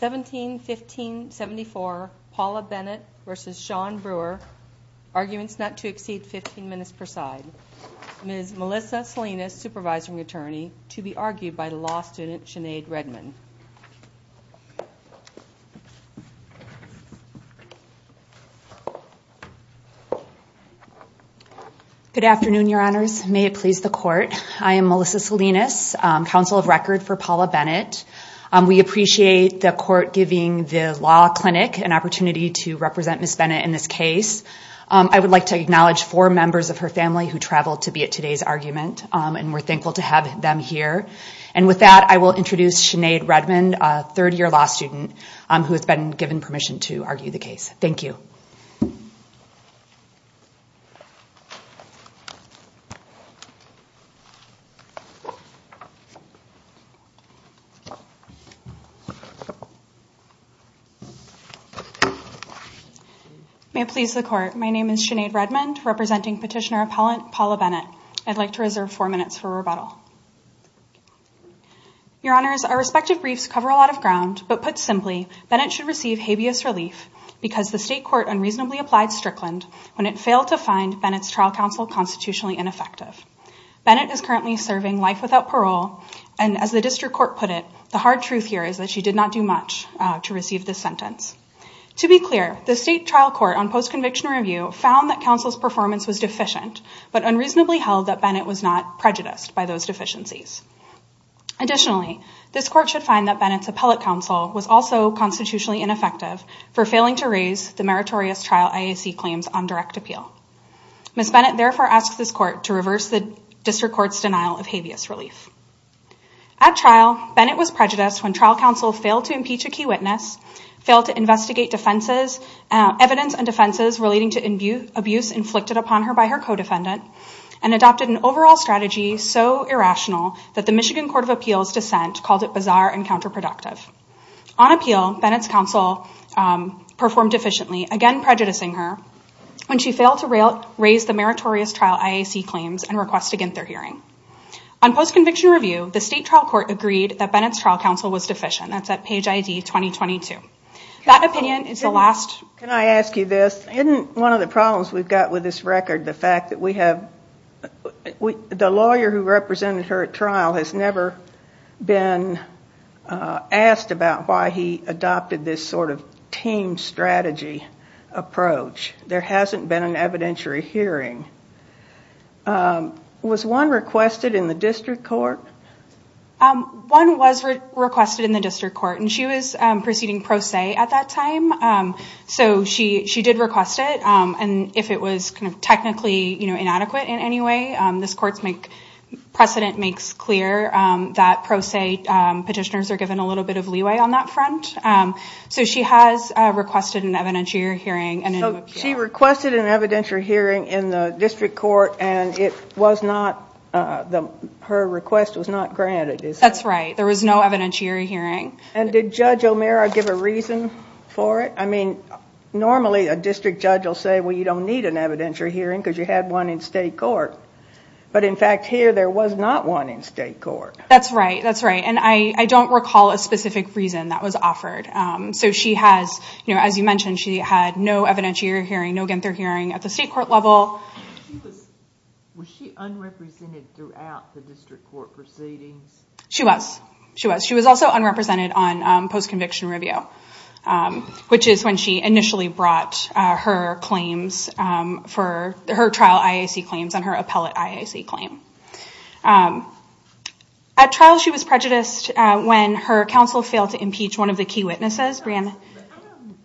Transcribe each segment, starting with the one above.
17-15-74 Paula Bennett versus Shawn Brewer Arguments not to exceed 15 minutes per side Ms. Melissa Salinas, Supervising Attorney to be argued by law student Sinead Redman Good afternoon, Your Honors. May it please the Court I am Melissa Salinas, Counsel of Record for Paula Bennett We appreciate the Court giving the Law Clinic an opportunity to represent Ms. Bennett in this case I would like to acknowledge four members of her family who traveled to be at today's argument and we're thankful to have them here. And with that, I will introduce Sinead Redman, a third-year law student who has been given permission to argue the case. Thank you May it please the Court, my name is Sinead Redman representing Petitioner Appellant Paula Bennett I'd like to reserve four minutes for rebuttal Your Honors, our respective briefs cover a lot of ground but put simply, Bennett should receive habeas relief because the State Court unreasonably applied Strickland when it failed to find Bennett's trial counsel constitutionally ineffective. Bennett is currently serving life without parole and as the District Court put it, the hard truth here is that she did not do much to receive this sentence. To be clear, the State Trial Court on Post-Conviction Review found that counsel's performance was deficient but unreasonably held that Bennett was not prejudiced by those deficiencies. Additionally, this Court should find that Bennett's appellate counsel was also constitutionally ineffective for failing to raise the meritorious trial IAC claims on direct appeal. Ms. Bennett therefore asks this Court to reverse the District Court's denial of habeas relief. At trial, Bennett was prejudiced when trial counsel failed to impeach a key witness, failed to investigate evidence and defenses relating to abuse inflicted upon her by her co-defendant and adopted an overall strategy so irrational that the Michigan Court of Appeals dissent called it bizarre and counterproductive. On appeal, Bennett's counsel performed deficiently, again prejudicing her when she failed to raise the meritorious trial IAC claims and request against their hearing. On post-conviction review, the State Trial Court agreed that Bennett's trial counsel was deficient. That's at page ID 2022. Can I ask you this? Isn't one of the problems we've got with this record the fact that we have the lawyer who represented her at trial has never been asked about why he adopted this sort of team strategy approach. There hasn't been an evidentiary hearing. Was one requested in the District Court? One was requested in the District Court and she was proceeding pro se at that time so she did request it and if it was technically inadequate in any way this court's precedent makes clear that pro se petitioners are given a little bit of leeway on that front. So she has requested an evidentiary hearing. So she requested an evidentiary hearing in the District Court and it was not her request was not granted. That's right. There was no evidentiary hearing. And did Judge O'Meara give a reason for it? I mean normally a District Judge will say well you don't need an evidentiary hearing because you had one in State Court. But in fact here there was not one in State Court. That's right. That's right. And I don't recall a specific reason that was mentioned. She had no evidentiary hearing, no gantor hearing at the State Court level. Was she unrepresented throughout the District Court proceedings? She was. She was. She was also unrepresented on post-conviction review which is when she initially brought her claims for her trial IAC claims and her appellate IAC claim. At trial she was prejudiced when her counsel failed to impeach one of the key witnesses.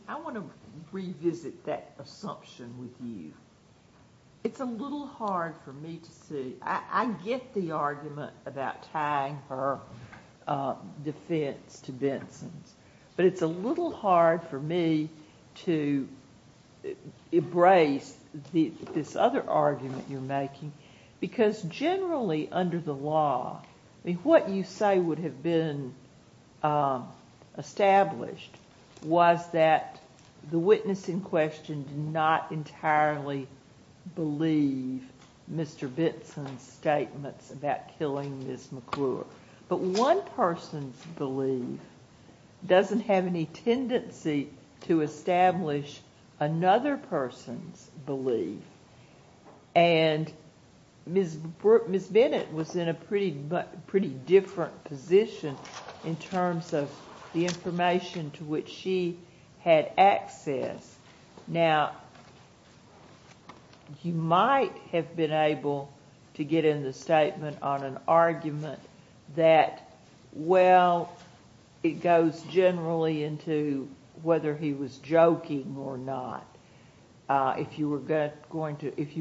I want to revisit that assumption with you. It's a little hard for me to see. I get the argument about tying her defense to Benson's but it's a little hard for me to embrace this other argument you're making because generally under the law, what you say would have been established was that the witness in question did not entirely believe Mr. Benson's statements about killing Ms. McClure. But one person's belief doesn't have any tendency to establish another person's belief and Ms. Bennett was in a pretty different position in terms of the information to which she had access. Now, you might have been able to get in the statement on an argument that well, it goes generally into whether he was joking or not. If you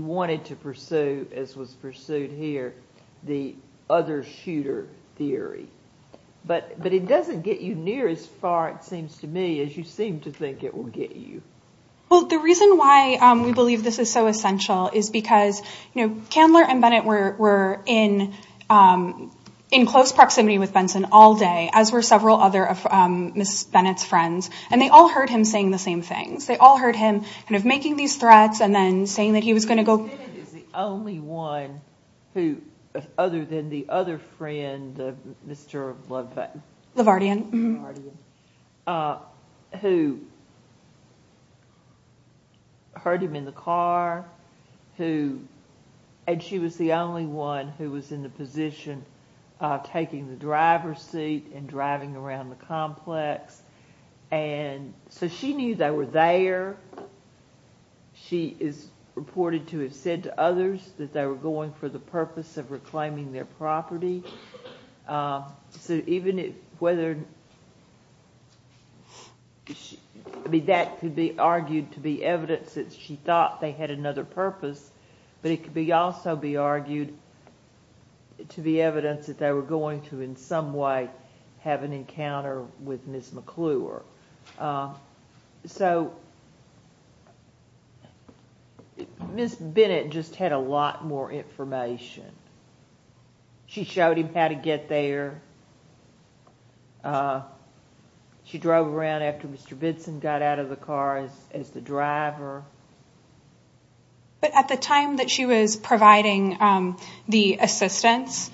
wanted to pursue as was pursued here, the other shooter theory. But it doesn't get you near as far, it seems to me, as you seem to think it will get you. Well, the reason why we believe this is so essential is because Candler and Bennett were in close proximity with Benson all day as were several other of Ms. Bennett's friends and they all heard him saying the same things. They all heard him making these threats and then saying that he was going to go... Bennett is the only one who, other than the other friend, Mr. LaVardian, who heard him in the car, who and she was the only one who was in the position of taking the driver's seat and driving around the complex and so she knew they were there. She is reported to have said to others that they were going for the purpose of reclaiming their property. So even if whether that could be argued to be evidence that she thought they had another purpose, but it could also be argued to be evidence that they were going to in some way have an encounter with Ms. McClure. So Ms. Bennett just had a lot more information. She showed him how to get there. She drove around after Mr. Benson got out of the car as the driver. But at the time that she was providing the assistance,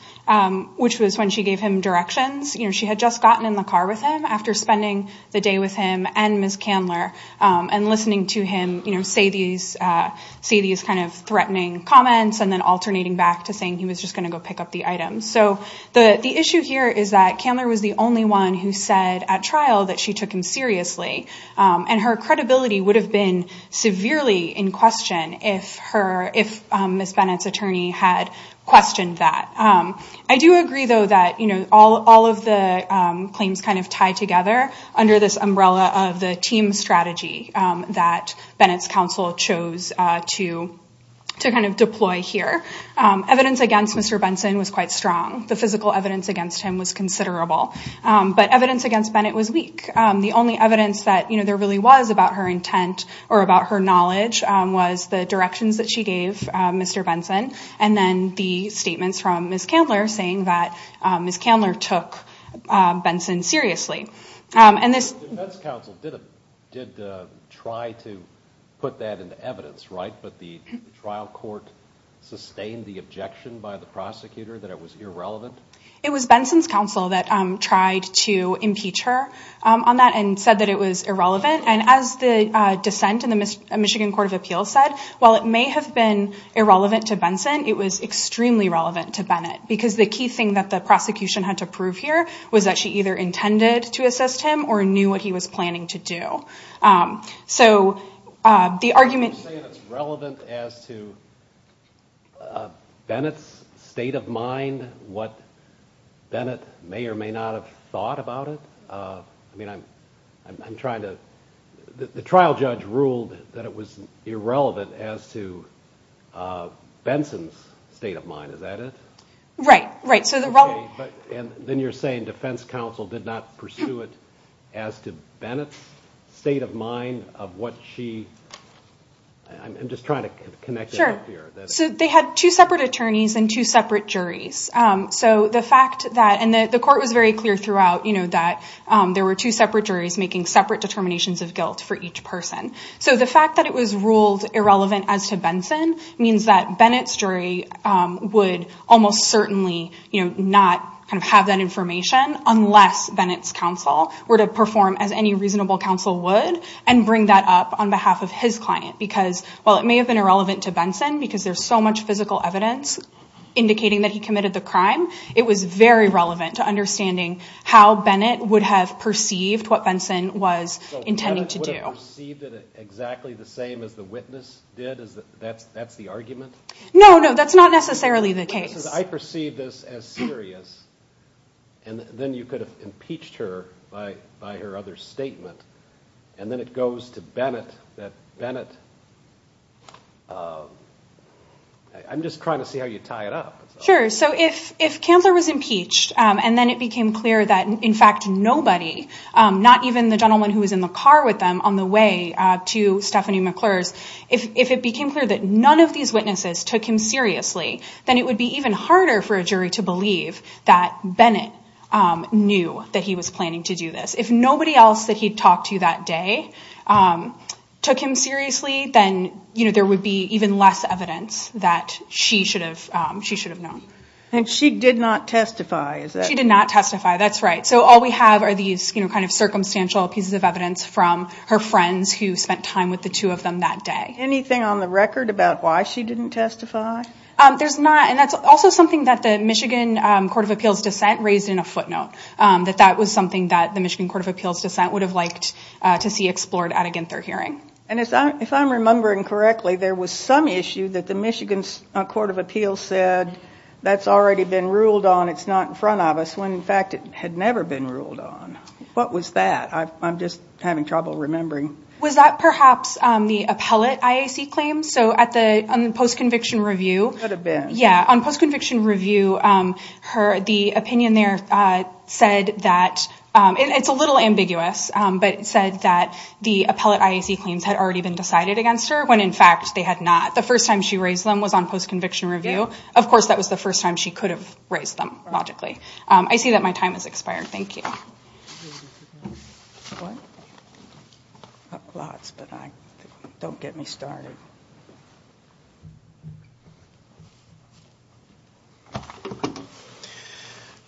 which was when she gave him directions, she had just gotten in the car with him after spending the day with him and Ms. Candler and listening to him say these kind of threatening comments and then alternating back to saying he was just going to go pick up the items. So the issue here is that Candler was the only one who said at trial that she took him seriously and her credibility would have been severely in question if Ms. Bennett's I do agree, though, that all of the claims kind of tie together under this umbrella of the team strategy that Bennett's counsel chose to kind of deploy here. Evidence against Mr. Benson was quite strong. The physical evidence against him was considerable, but evidence against Bennett was weak. The only evidence that there really was about her intent or about her knowledge was the directions that she gave Mr. Benson and then the statements from Ms. Candler saying that Ms. Candler took Benson seriously. The defense counsel did try to put that into evidence, right? But the trial court sustained the objection by the prosecutor that it was irrelevant? It was Benson's counsel that tried to impeach her on that and said that it was irrelevant. And as the dissent in the Michigan Court of Appeals said, while it may have been irrelevant to Benson, it was extremely relevant to Bennett because the key thing that the prosecution had to prove here was that she either intended to assist him or knew what he was planning to do. So the argument... You're saying it's relevant as to Bennett's state of mind, what Bennett may or may not have thought about it? I mean, I'm trying to... The trial judge ruled that it was irrelevant as to Benson's state of mind. Is that it? Then you're saying defense counsel did not pursue it as to Bennett's state of mind of what she... I'm just trying to connect it up here. They had two separate attorneys and two separate juries. The court was very clear throughout that there were two separate juries making separate determinations of guilt for each person. So the fact that it was ruled irrelevant as to Benson means that Bennett's jury would almost certainly not have that information unless Bennett's counsel were to perform as any reasonable counsel would and bring that up on behalf of his client because while it may have been irrelevant to Benson because there's so much physical evidence indicating that he committed the crime, it was very likely that Bennett would have perceived what Benson was intending to do. So Bennett would have perceived it exactly the same as the witness did? That's the argument? No, no. That's not necessarily the case. I perceive this as serious and then you could have impeached her by her other statement and then it goes to Bennett that Bennett... I'm just trying to see how you tie it up. Sure. So if Candler was impeached and then it became clear that in fact nobody not even the gentleman who was in the car with them on the way to Stephanie McClure's, if it became clear that none of these witnesses took him seriously then it would be even harder for a jury to believe that Bennett knew that he was planning to do this. If nobody else that he talked to that day took him seriously then there would be even less evidence that she should have known. And she did not testify? She did not testify, that's right. So all we have are these kind of circumstantial pieces of evidence from her friends who spent time with the two of them that day. Anything on the record about why she didn't testify? There's not. And that's also something that the Michigan Court of Appeals dissent raised in a footnote. That that was something that the Michigan Court of Appeals dissent would have liked to see explored at a Ginther hearing. And if I'm remembering correctly, there was some issue that the Michigan Court of Appeals said that's already been ruled on, it's not in front of us when in fact it had never been ruled on. What was that? I'm just having trouble remembering. Was that perhaps the appellate IAC claim? So on the post-conviction review, the opinion there said that, it's a little ambiguous, but it said that the appellate IAC claims had already been decided against her when in fact they had not. The first time she raised them was on post-conviction review. Of course, that was the first time she could have raised them, logically. I see that my time has expired. Thank you.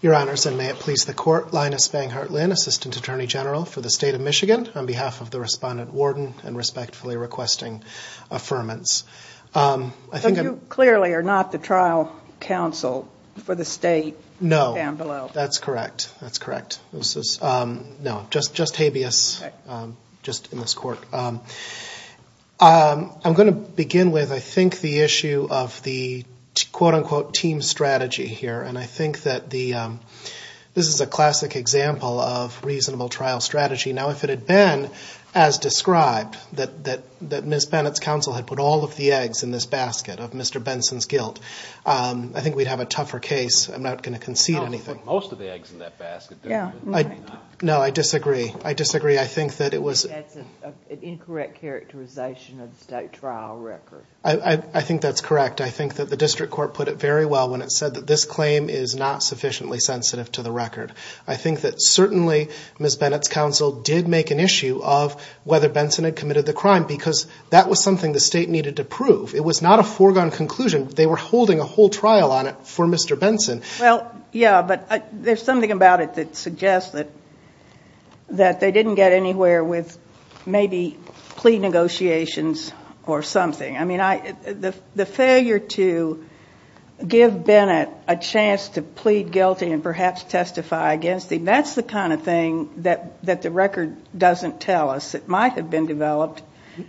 Your Honors, and may it please the Court, Linus Banghart Lynn, Assistant Attorney General for the State of Michigan on behalf of the Respondent Warden and respectfully requesting affirmance. You clearly are not the trial counsel for the State down below. No, that's correct. Just habeas, just in this Court. I'm going to begin with, I think, the issue of the quote-unquote team strategy here. And I think that this is a classic example of reasonable trial strategy. Now, if it had been as described, that Ms. Bennett's counsel had put all of the eggs in this basket of Mr. Benson's guilt, I think we'd have a tougher case. I'm not going to concede anything. No, I disagree. That's an incorrect characterization of the State trial record. I think that's correct. I think that the District Court put it very well when it said that this claim is not sufficiently sensitive to the record. I think that certainly Ms. Bennett's counsel did make an issue of whether Benson had committed the crime because that was something the State needed to prove. It was not a foregone conclusion. They were holding a whole trial on it for Mr. Benson. Well, yeah, but there's something about it that suggests that they didn't get anywhere with maybe plea negotiations or something. I mean, the failure to give Bennett a chance to plead guilty and perhaps testify against him, that's the kind of thing that the record doesn't tell us. It might have been developed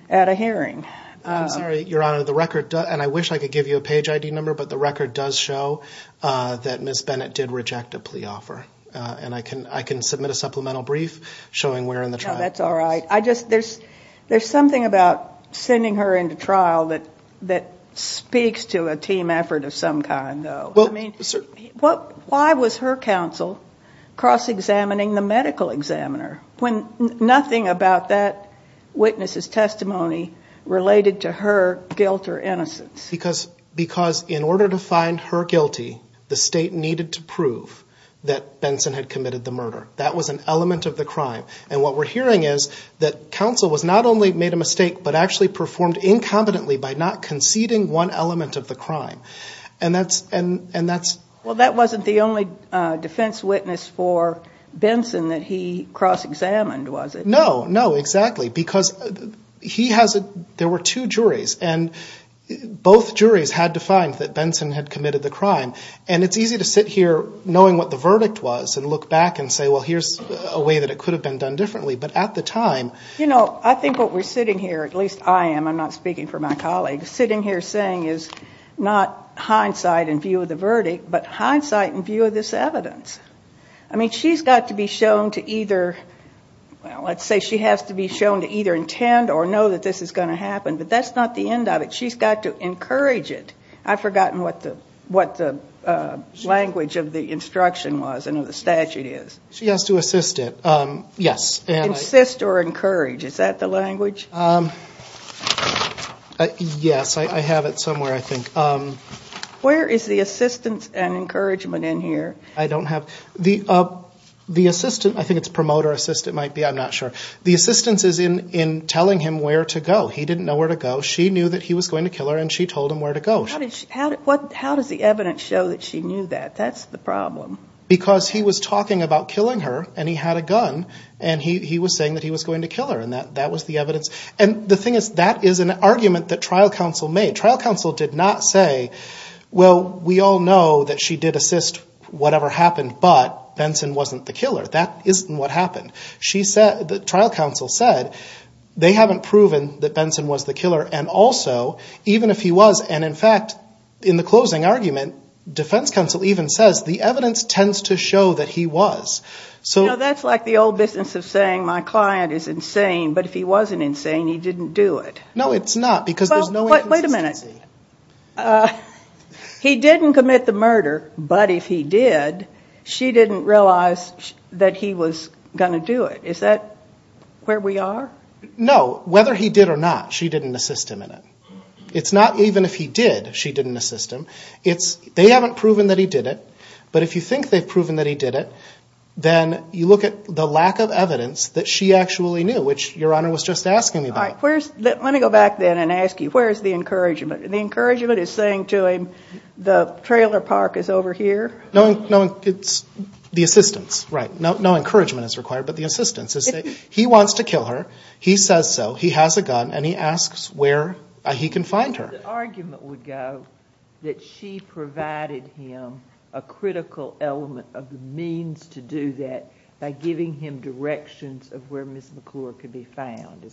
at a hearing. I'm sorry, Your Honor, the record does, and I wish I could give you a page ID number, but the record does show that Ms. Bennett did reject a plea offer. And I can submit a supplemental brief showing where in the trial. No, that's all right. There's something about sending her into trial that speaks to a team effort of some kind, though. Why was her counsel cross-examining the medical examiner when nothing about that witness's testimony related to her guilt or innocence? Because in order to find her guilty, the State needed to prove that Benson had committed the murder. That was an element of the crime. And what we're hearing is that counsel was not only made a mistake, but actually performed incompetently by not conceding one element of the crime. And that's... Well, that wasn't the only defense witness for Benson that he cross-examined, was it? No, no, exactly. Because he has a... There were two juries, and both juries had to find that Benson had committed the crime. And it's easy to sit here knowing what the verdict was and look back and say, well, here's a way that it could have been done differently. But at the time... You know, I think what we're sitting here, at least I am, I'm not speaking for my colleagues, sitting here saying is not hindsight in view of the verdict, but hindsight in view of this evidence. I mean, she's got to be shown to either... Well, let's say she has to be shown to either intend or know that this is going to happen. But that's not the end of it. She's got to encourage it. I've forgotten what the language of the instruction was and the statute is. She has to assist it. Yes. Insist or encourage. Is that the language? Yes, I have it somewhere, I think. Where is the assistance and encouragement in here? I don't have... I think it's promote or assist it might be. I'm not sure. She knew that he was going to kill her and she told him where to go. How does the evidence show that she knew that? That's the problem. Because he was talking about killing her and he had a gun and he was saying that he was going to kill her and that was the evidence. And the thing is, that is an argument that trial counsel made. Trial counsel did not say, well, we all know that she did assist whatever happened but Benson wasn't the killer. That isn't what happened. Trial counsel said they haven't proven that Benson was the killer and also, even if he was and in fact, in the closing argument, defense counsel even says the evidence tends to show that he was. That's like the old business of saying my client is insane but if he wasn't insane he didn't do it. No, it's not because there's no inconsistency. Wait a minute. He didn't commit the murder but if he did, she didn't realize that he was going to do it. Is that where we are? No, whether he did or not, she didn't assist him in it. It's not even if he did, she didn't assist him. They haven't proven that he did it but if you think they've proven that he did it then you look at the lack of evidence that she actually knew which Your Honor was just asking me about. Let me go back then and ask you, where's the encouragement? The encouragement is saying to him, the trailer park is over here? No, it's the assistance, right. No encouragement is required but the assistance. He wants to kill her, he says so, he has a gun and he asks where he can find her. The argument would go that she provided him a critical element of the means to do that by giving him directions of where Ms. McClure could be found.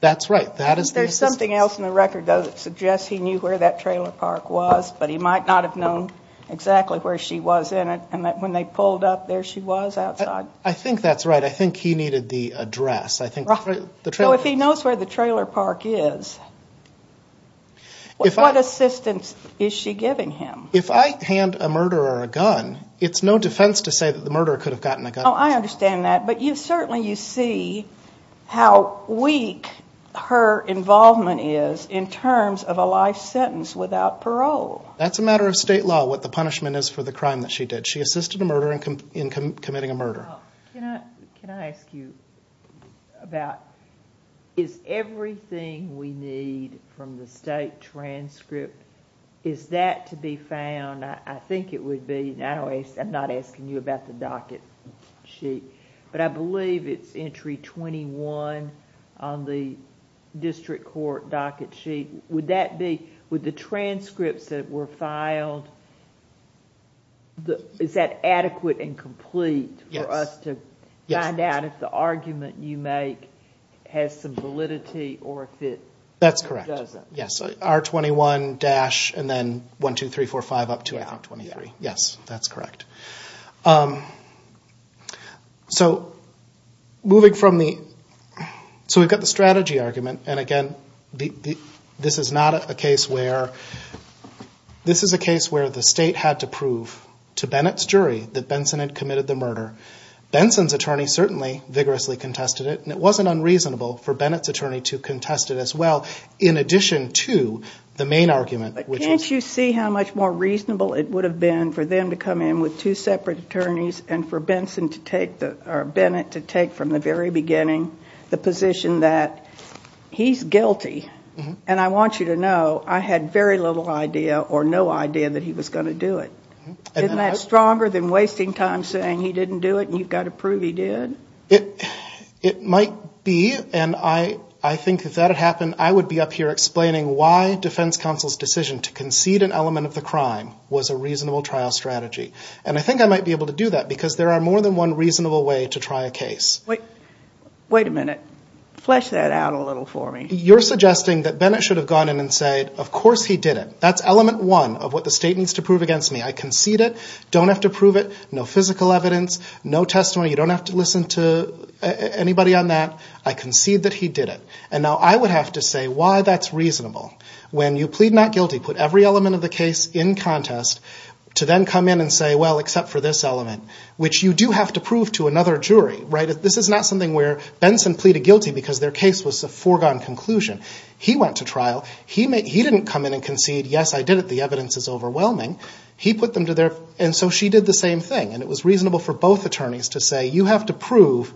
That's right. There's something else in the record that suggests he knew where that trailer park was but he might not have known exactly where she was in it and that when they pulled up there she was outside. I think that's right. I think he needed the address. So if he knows where the trailer park is what assistance is she giving him? If I hand a murderer a gun it's no defense to say that the murderer could have gotten a gun. I understand that but certainly you see how weak her involvement is in terms of a life sentence without parole. That's a matter of state law what the punishment is for the crime that she did. She assisted a murderer in committing a murder. Can I ask you about is everything we need from the state transcript is that to be found? I'm not asking you about the docket sheet but I believe it's entry 21 on the district court docket sheet. Would the transcripts that were filed is that adequate and complete for us to find out if the argument you make has some validity or if it doesn't? That's correct. R21 dash and then 12345 up to R23. Yes, that's correct. So we've got the strategy argument and again this is not a case where the state had to prove to Bennett's jury that Benson had committed the murder. Benson's attorney certainly vigorously contested it and it wasn't unreasonable for Bennett's attorney to contest it as well in addition to the main argument. Can't you see how much more reasonable it would have been for them to come in with two separate attorneys and for Bennett to take from the very beginning the position that he's guilty and I want you to know I had very little idea or no idea that he was going to do it. Isn't that stronger than wasting time saying he didn't do it and you've got to prove he did? It might be and I think if that had happened I would be up here explaining why defense counsel's decision to concede an element of the crime was a reasonable trial strategy and I think I might be able to do that because there are more than one reasonable way to try a case. Wait a minute. Flesh that out a little for me. You're suggesting that Bennett should have gone in and said of course he did it. That's element one of what the state needs to prove against me. I concede it. Don't have to prove it. No physical evidence. No testimony. You don't have to listen to anybody on that. I concede that he did it. And now I would have to say why that's reasonable when you plead not guilty, put every element of the case in contest to then come in and say well except for this element which you do have to prove to another jury. This is not something where Benson pleaded guilty because their case was a foregone conclusion. He went to trial. He didn't come in and concede yes I did it. The evidence is overwhelming. He put them to their and so she did the same thing and it was reasonable for both attorneys to say you have to prove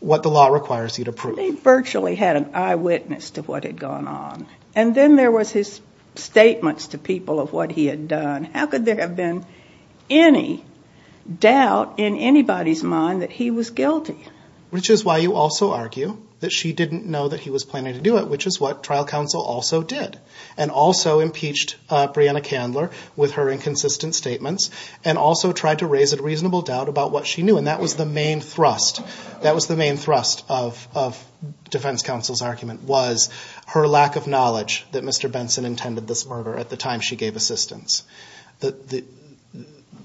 what the law requires you to prove. He virtually had an eyewitness to what had gone on and then there was his statements to people of what he had done. How could there have been any doubt in anybody's mind that he was guilty? Which is why you also argue that she didn't know that he was planning to do it which is what trial counsel also did and also impeached Brianna Candler with her inconsistent statements and also tried to raise a reasonable doubt about what she knew and that was the main thrust that was the main thrust of defense counsel's argument was her lack of knowledge that Mr. Benson intended this murder at the time she gave assistance.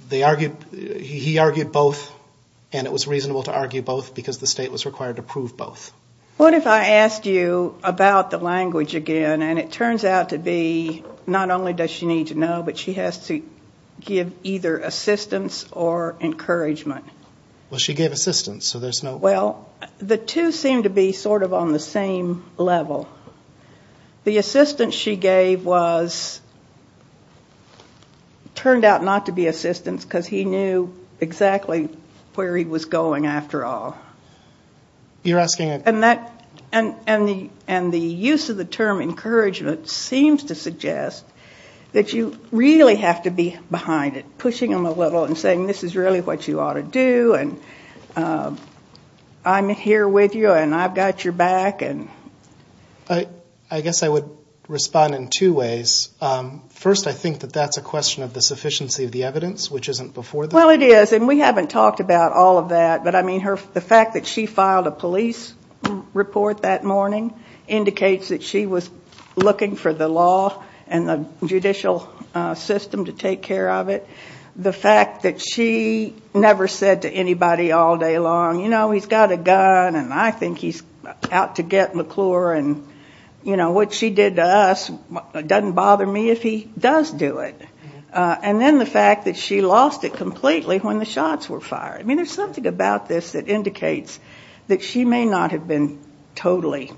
He argued both and it was reasonable to argue both because the state was required to prove both. What if I asked you about the language again and it turns out to be not only does she need to know but she has to give either assistance or encouragement. Well she gave assistance so there's no... Well the two seem to be sort of on the same level. The assistance she gave was turned out not to be assistance because he knew exactly where he was going after all. You're asking... And the use of the term encouragement seems to suggest that you really have to be behind it pushing him a little and saying this is really what you ought to do and I'm here with you and I've got your back. I guess I would respond in two ways. First I think that that's a question of the sufficiency of the evidence which isn't before the... Well it is and we haven't talked about all of that but the fact that she filed a police report that morning indicates that she was looking for the law and the judicial system to take care of it. The fact that she never said to anybody all day long he's got a gun and I think he's out to get McClure and what she did to us doesn't bother me if he does do it. And then the fact that she lost it completely when the shots were fired. There's something about this that indicates that she may not have been totally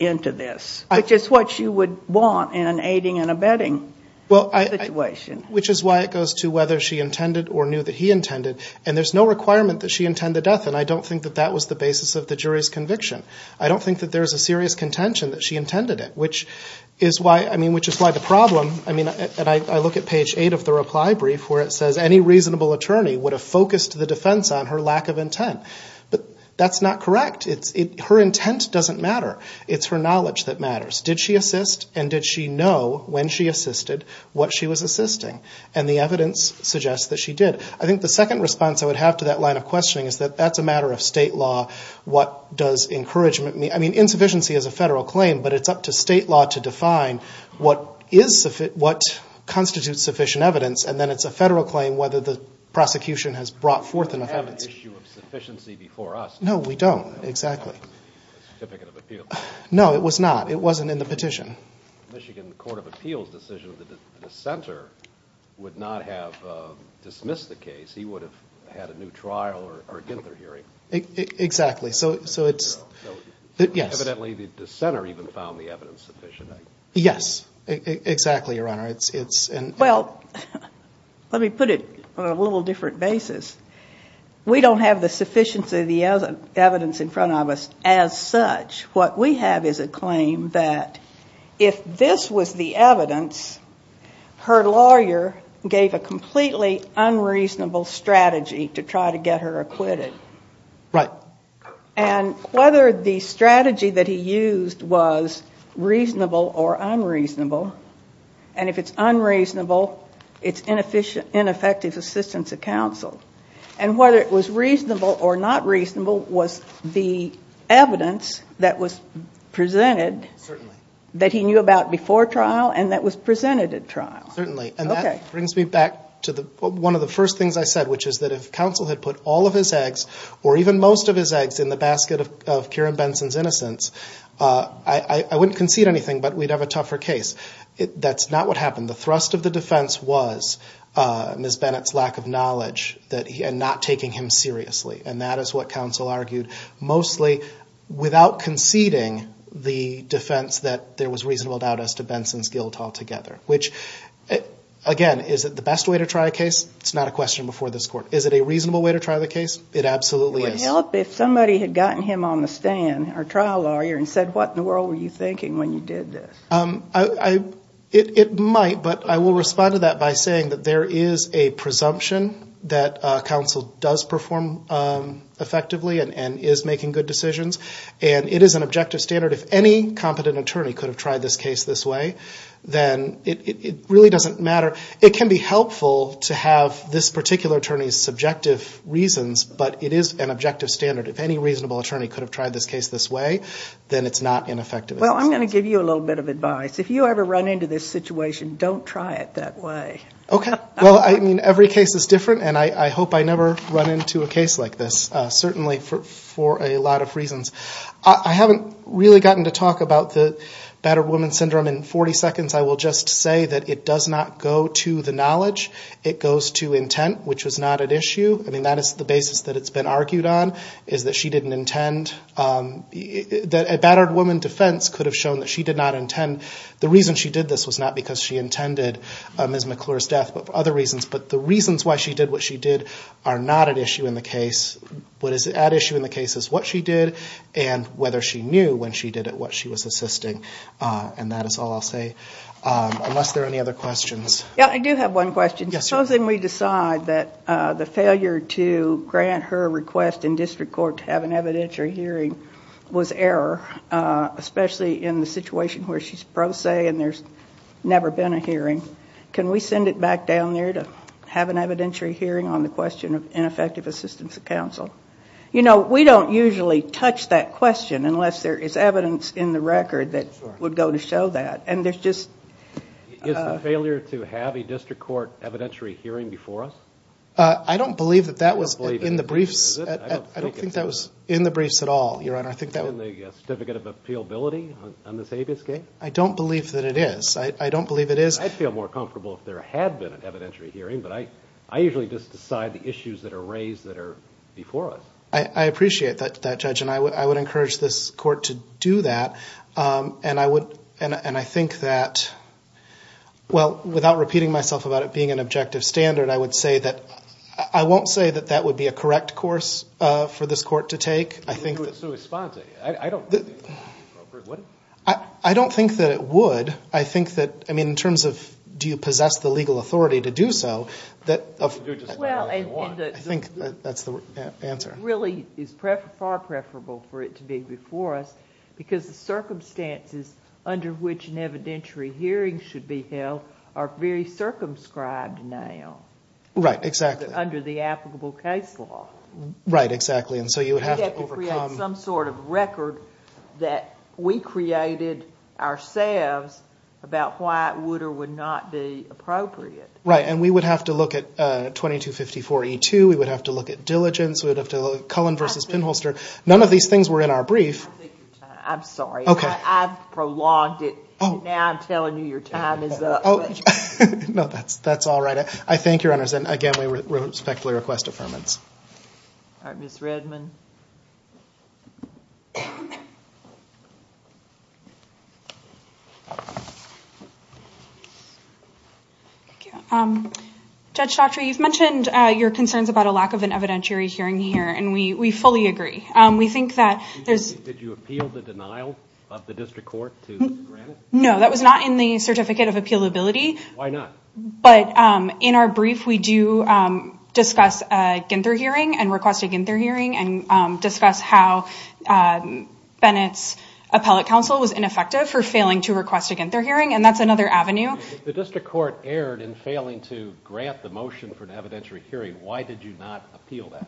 into this which is what you would want in an aiding and abetting situation. Which is why it goes to whether she intended or knew that he intended and there's no requirement that she intend the death and I don't think that that was the basis of the jury's conviction. I don't think that there's a serious contention that she intended it which is why the problem... I look at page 8 of the reply brief where it says any reasonable attorney would have focused the defense on her lack of intent but that's not correct. Her intent doesn't matter. It's her knowledge that matters. Did she assist and did she know when she assisted what she was assisting and the evidence suggests that she did. I think the second response I would have to that line of questioning is that that's a matter of state law. Insufficiency is a federal claim but it's up to state law to define what constitutes sufficient evidence and then it's a federal claim whether the prosecution has brought forth enough evidence. We don't have an issue of sufficiency before us. No, we don't. Exactly. No, it was not. It wasn't in the petition. The Michigan Court of Appeals decision that the dissenter would not have dismissed the case he would have had a new trial or a dither hearing. Exactly. So it's... Evidently the dissenter even found the evidence sufficient. Yes. Exactly, Your Honor. Let me put it on a little different basis. We don't have the sufficiency of the evidence in front of us as such. What we have is a claim that if this was the evidence her lawyer gave a completely unreasonable strategy to try to get her acquitted. Right. And whether the strategy that he used was reasonable or unreasonable and if it's unreasonable it's ineffective assistance to counsel. And whether it was reasonable or not reasonable was the evidence that was presented that he knew about before trial and that was presented at trial. Certainly. And that brings me back to one of the first things I said which is that if counsel had put all of his eggs or even most of his eggs in the basket of Kieran Benson's innocence I wouldn't concede anything but we'd have a tougher case. That's not what happened. The thrust of the defense was Ms. Bennett's lack of knowledge and not taking him seriously. And that is what counsel argued. Mostly without conceding the defense that there was reasonable doubt as to Benson's guilt altogether. Which, again, is it the best way to try a case? It's not a question before this Court. Is it a reasonable way to try the case? It absolutely is. Would it help if somebody had gotten him on the stand, our trial lawyer and said what in the world were you thinking when you did this? It might but I will respond to that by saying that there is a presumption that counsel does perform effectively and is making good decisions and it is an objective standard. If any competent attorney could have tried this case this way then it really doesn't matter. It can be helpful to have this particular attorney's objective standard. If any reasonable attorney could have tried this case this way then it's not ineffective. I'm going to give you a little bit of advice. If you ever run into this situation, don't try it that way. Every case is different and I hope I never run into a case like this. Certainly for a lot of reasons. I haven't really gotten to talk about the battered woman syndrome in 40 seconds. I will just say that it does not go to the knowledge. It goes to intent, which was not at issue. That is the basis that it's been argued on, is that she didn't intend. A battered woman defense could have shown that she did not intend. The reason she did this was not because she intended Ms. McClure's death but for other reasons. The reasons why she did what she did are not at issue in the case. What is at issue in the case is what she did and whether she knew when she did it what she was assisting. That is all I will say unless there are any other questions. I do have one question. Supposing we decide that the failure to grant her request in district court to have an evidentiary hearing was error, especially in the situation where she is pro se and there has never been a hearing. Can we send it back down there to have an evidentiary hearing on the question of ineffective assistance of counsel? We don't usually touch that question unless there is evidence in the record that would go to show that. Is the failure to have a district court evidentiary hearing before us? I don't believe that was in the briefs. I don't think that was in the briefs at all, Your Honor. Is it in the Certificate of Appealability on this habeas case? I don't believe that it is. I feel more comfortable if there had been an evidentiary hearing but I usually just decide the issues that are raised that are before us. I appreciate that, Judge. I would encourage this court to do that and I think that, well, without repeating myself about it being an objective standard, I won't say that that would be a correct course for this court to take. I don't think that it would. I mean, in terms of do you possess the legal authority to do so, I think that's the answer. It really is far preferable for it to be before us because the circumstances under which an evidentiary hearing should be held are very circumscribed now. Right, exactly. Under the applicable case law. We'd have to create some sort of record that we created ourselves about why it would or would not be appropriate. Right, and we would have to look at 2254E2, we would have to look at diligence, we would have to look at Cullen v. Pinholster. None of these things were in our brief. I'm sorry, I've prolonged it. Now I'm telling you your time is up. No, that's all right. I thank you, Your Honors, and again, we respectfully request affirmance. All right, Ms. Redman. Thank you. Judge Daughtry, you've mentioned your concerns about a lack of an evidentiary hearing here, and we fully agree. Did you appeal the denial of the district court to grant it? No, that was not in the Certificate of Appealability. Why not? But in our brief, we do discuss a Ginther hearing and request a Ginther hearing and discuss how Bennett's appellate counsel was ineffective for failing to request a Ginther hearing, and that's another avenue. If the district court erred in failing to grant the motion for an evidentiary hearing, why did you not appeal that?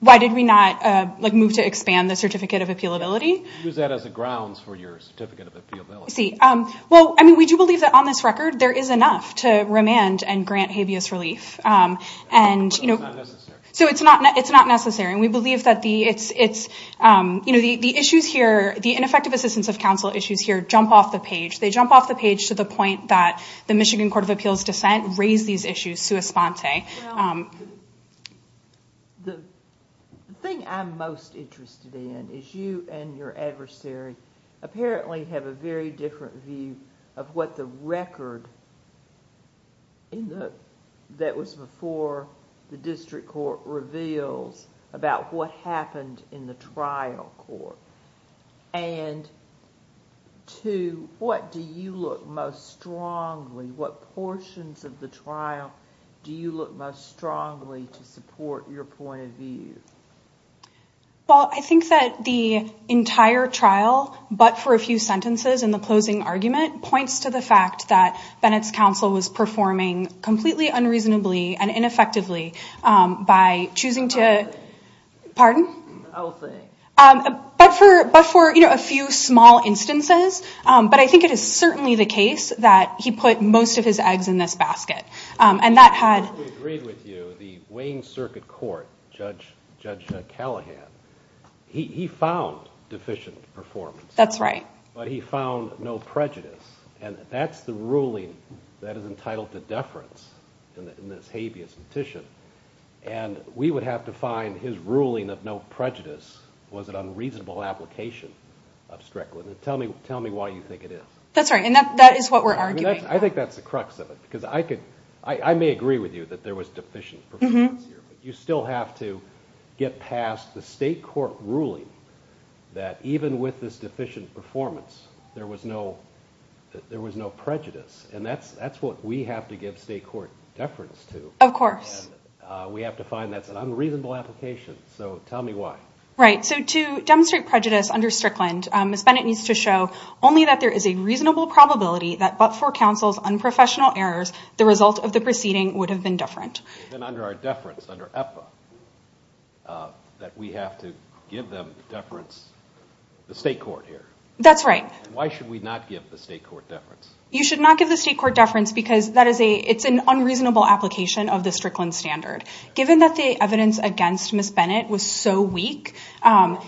Why did we not move to expand the Certificate of Appealability? Use that as a grounds for your Certificate of Appealability. We do believe that on this record, there is enough to remand and grant habeas relief. But it's not necessary. It's not necessary. The ineffective assistance of counsel issues here jump off the page. They jump off the page to the point that the Michigan Court of Appeals' dissent raised these issues sui sponte. The thing I'm most interested in is you and your adversary apparently have a very different view of what the record that was before the district court reveals about what happened in the trial court and to what do you look most strongly, what portions of the trial do you look most strongly to support your point of view? Well, I think that the entire trial, but for a few sentences in the closing argument, points to the fact that Bennett's counsel was performing completely unreasonably and ineffectively by choosing to... But for a few small instances. But I think it is certainly the case that he put most of his eggs in this basket. We agreed with you, the Wayne Circuit Court, Judge Callahan, he found deficient performance. That's right. But he found no prejudice. And that's the ruling that is entitled to deference in this habeas petition. And we would have to find his ruling of no prejudice was an unreasonable application of Strickland. Tell me why you think it is. That's right. And that is what we're arguing. I think that's the crux of it. I may agree with you that there was deficient performance here, but you still have to get past the state court ruling that even with this deficient performance, there was no prejudice. And that's what we have to give state court deference to. Of course. And we have to find that's an unreasonable application. So tell me why. Right. So to demonstrate prejudice under Strickland, Ms. Bennett needs to show only that there is a reasonable probability that but for counsel's unprofessional errors, the result of the proceeding would have been deferent. Then under our deference, under EPA, that we have to give them deference, the state court here. That's right. You should not give the state court deference because that is an unreasonable application of the Strickland standard. Given that the evidence against Ms. Bennett was so weak... I'm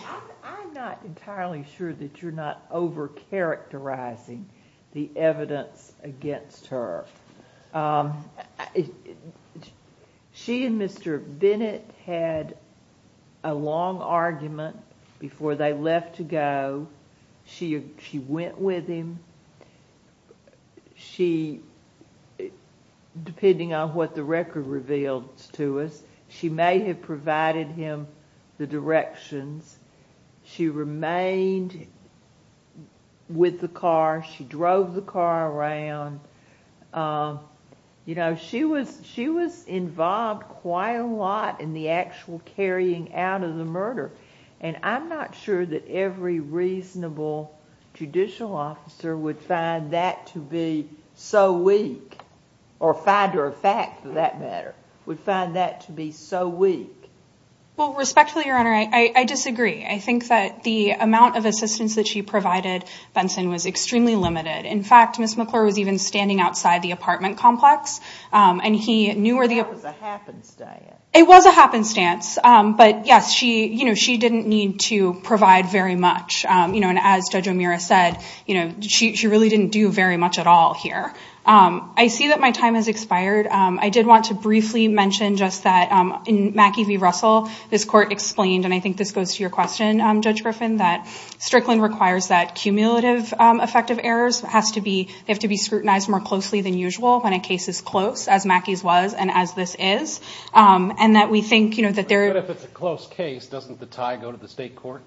not entirely sure that you're not overcharacterizing the evidence against her. She and Mr. Bennett had a long argument before they left to go. She went with him. She... depending on what the record reveals to us, she may have provided him the directions. She remained with the car. She drove the car around. She was involved quite a lot in the actual carrying out of the murder. I'm not sure that every reasonable judicial officer would find that to be so weak, or find her a fact for that matter, would find that to be so weak. Respectfully, Your Honor, I disagree. I think that the amount of assistance that she provided Benson was extremely limited. In fact, Ms. McClure was even standing outside the apartment complex and he knew... It was a happenstance. She didn't need to provide very much. As Judge O'Meara said, she really didn't do very much at all here. I see that my time has expired. I did want to briefly mention that in Mackie v. Russell, this Court explained, and I think this goes to your question, Judge Griffin, that Strickland requires that cumulative effective errors have to be scrutinized more closely than usual when a case is close, as Mackie's was and as this is. And that we think... But if it's a close case, doesn't the tie go to the state court?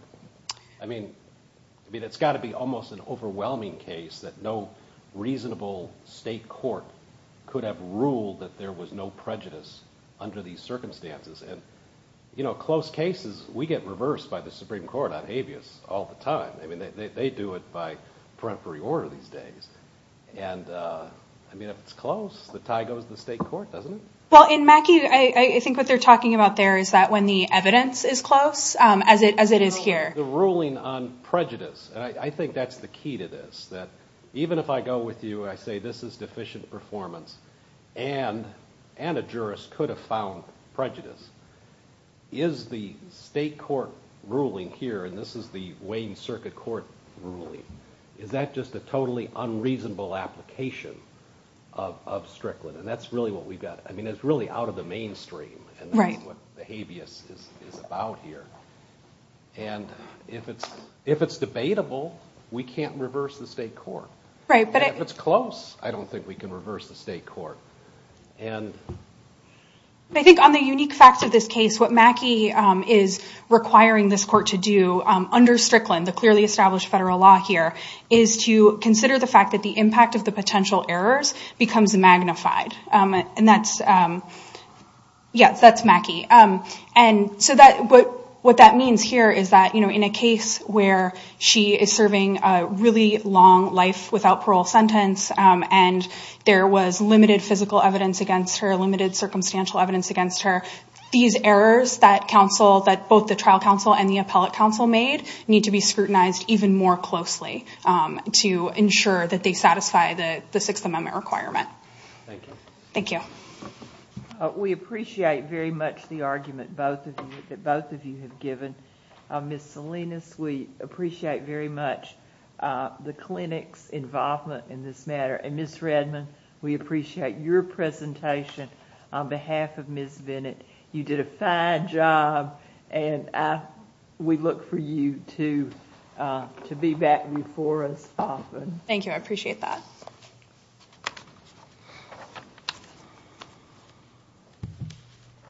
I mean, it's got to be almost an overwhelming case that no reasonable state court could have ruled that there was no prejudice under these circumstances. And close cases, we get reversed by the Supreme Court on habeas all the time. They do it by peremptory order these days. And if it's close, the tie goes to the state court, doesn't it? Well, in Mackie, I think what they're talking about there is that when the evidence is close, as it is here. The ruling on prejudice. I think that's the key to this, that even if I go with you and I say this is deficient performance and a jurist could have found prejudice, is the state court ruling here, and this is the Wayne Circuit Court ruling, is that just a totally unreasonable application of Strickland? And that's really what we've got. I mean, it's really out of the mainstream. And that's what the habeas is about here. And if it's debatable, we can't reverse the state court. And if it's close, I don't think we can reverse the state court. And... I think on the unique facts of this case, what Mackie is requiring this court to do under Strickland, the clearly established federal law here, is to consider the fact that the impact of the potential errors becomes magnified. Yeah, that's Mackie. And what that means here is that in a case where she is serving a really long life without parole sentence and there was limited physical evidence against her, limited circumstantial evidence against her, these errors that both the trial counsel and the appellate counsel made need to be scrutinized even more closely to ensure that they satisfy the Sixth Amendment requirement. Thank you. We appreciate very much the argument that both of you have given. Ms. Salinas, we appreciate very much the clinic's involvement in this matter. And Ms. Redman, we appreciate your presentation on behalf of Ms. Bennett. You did a fine job, and we look for you to be back before us often. Thank you. I appreciate that.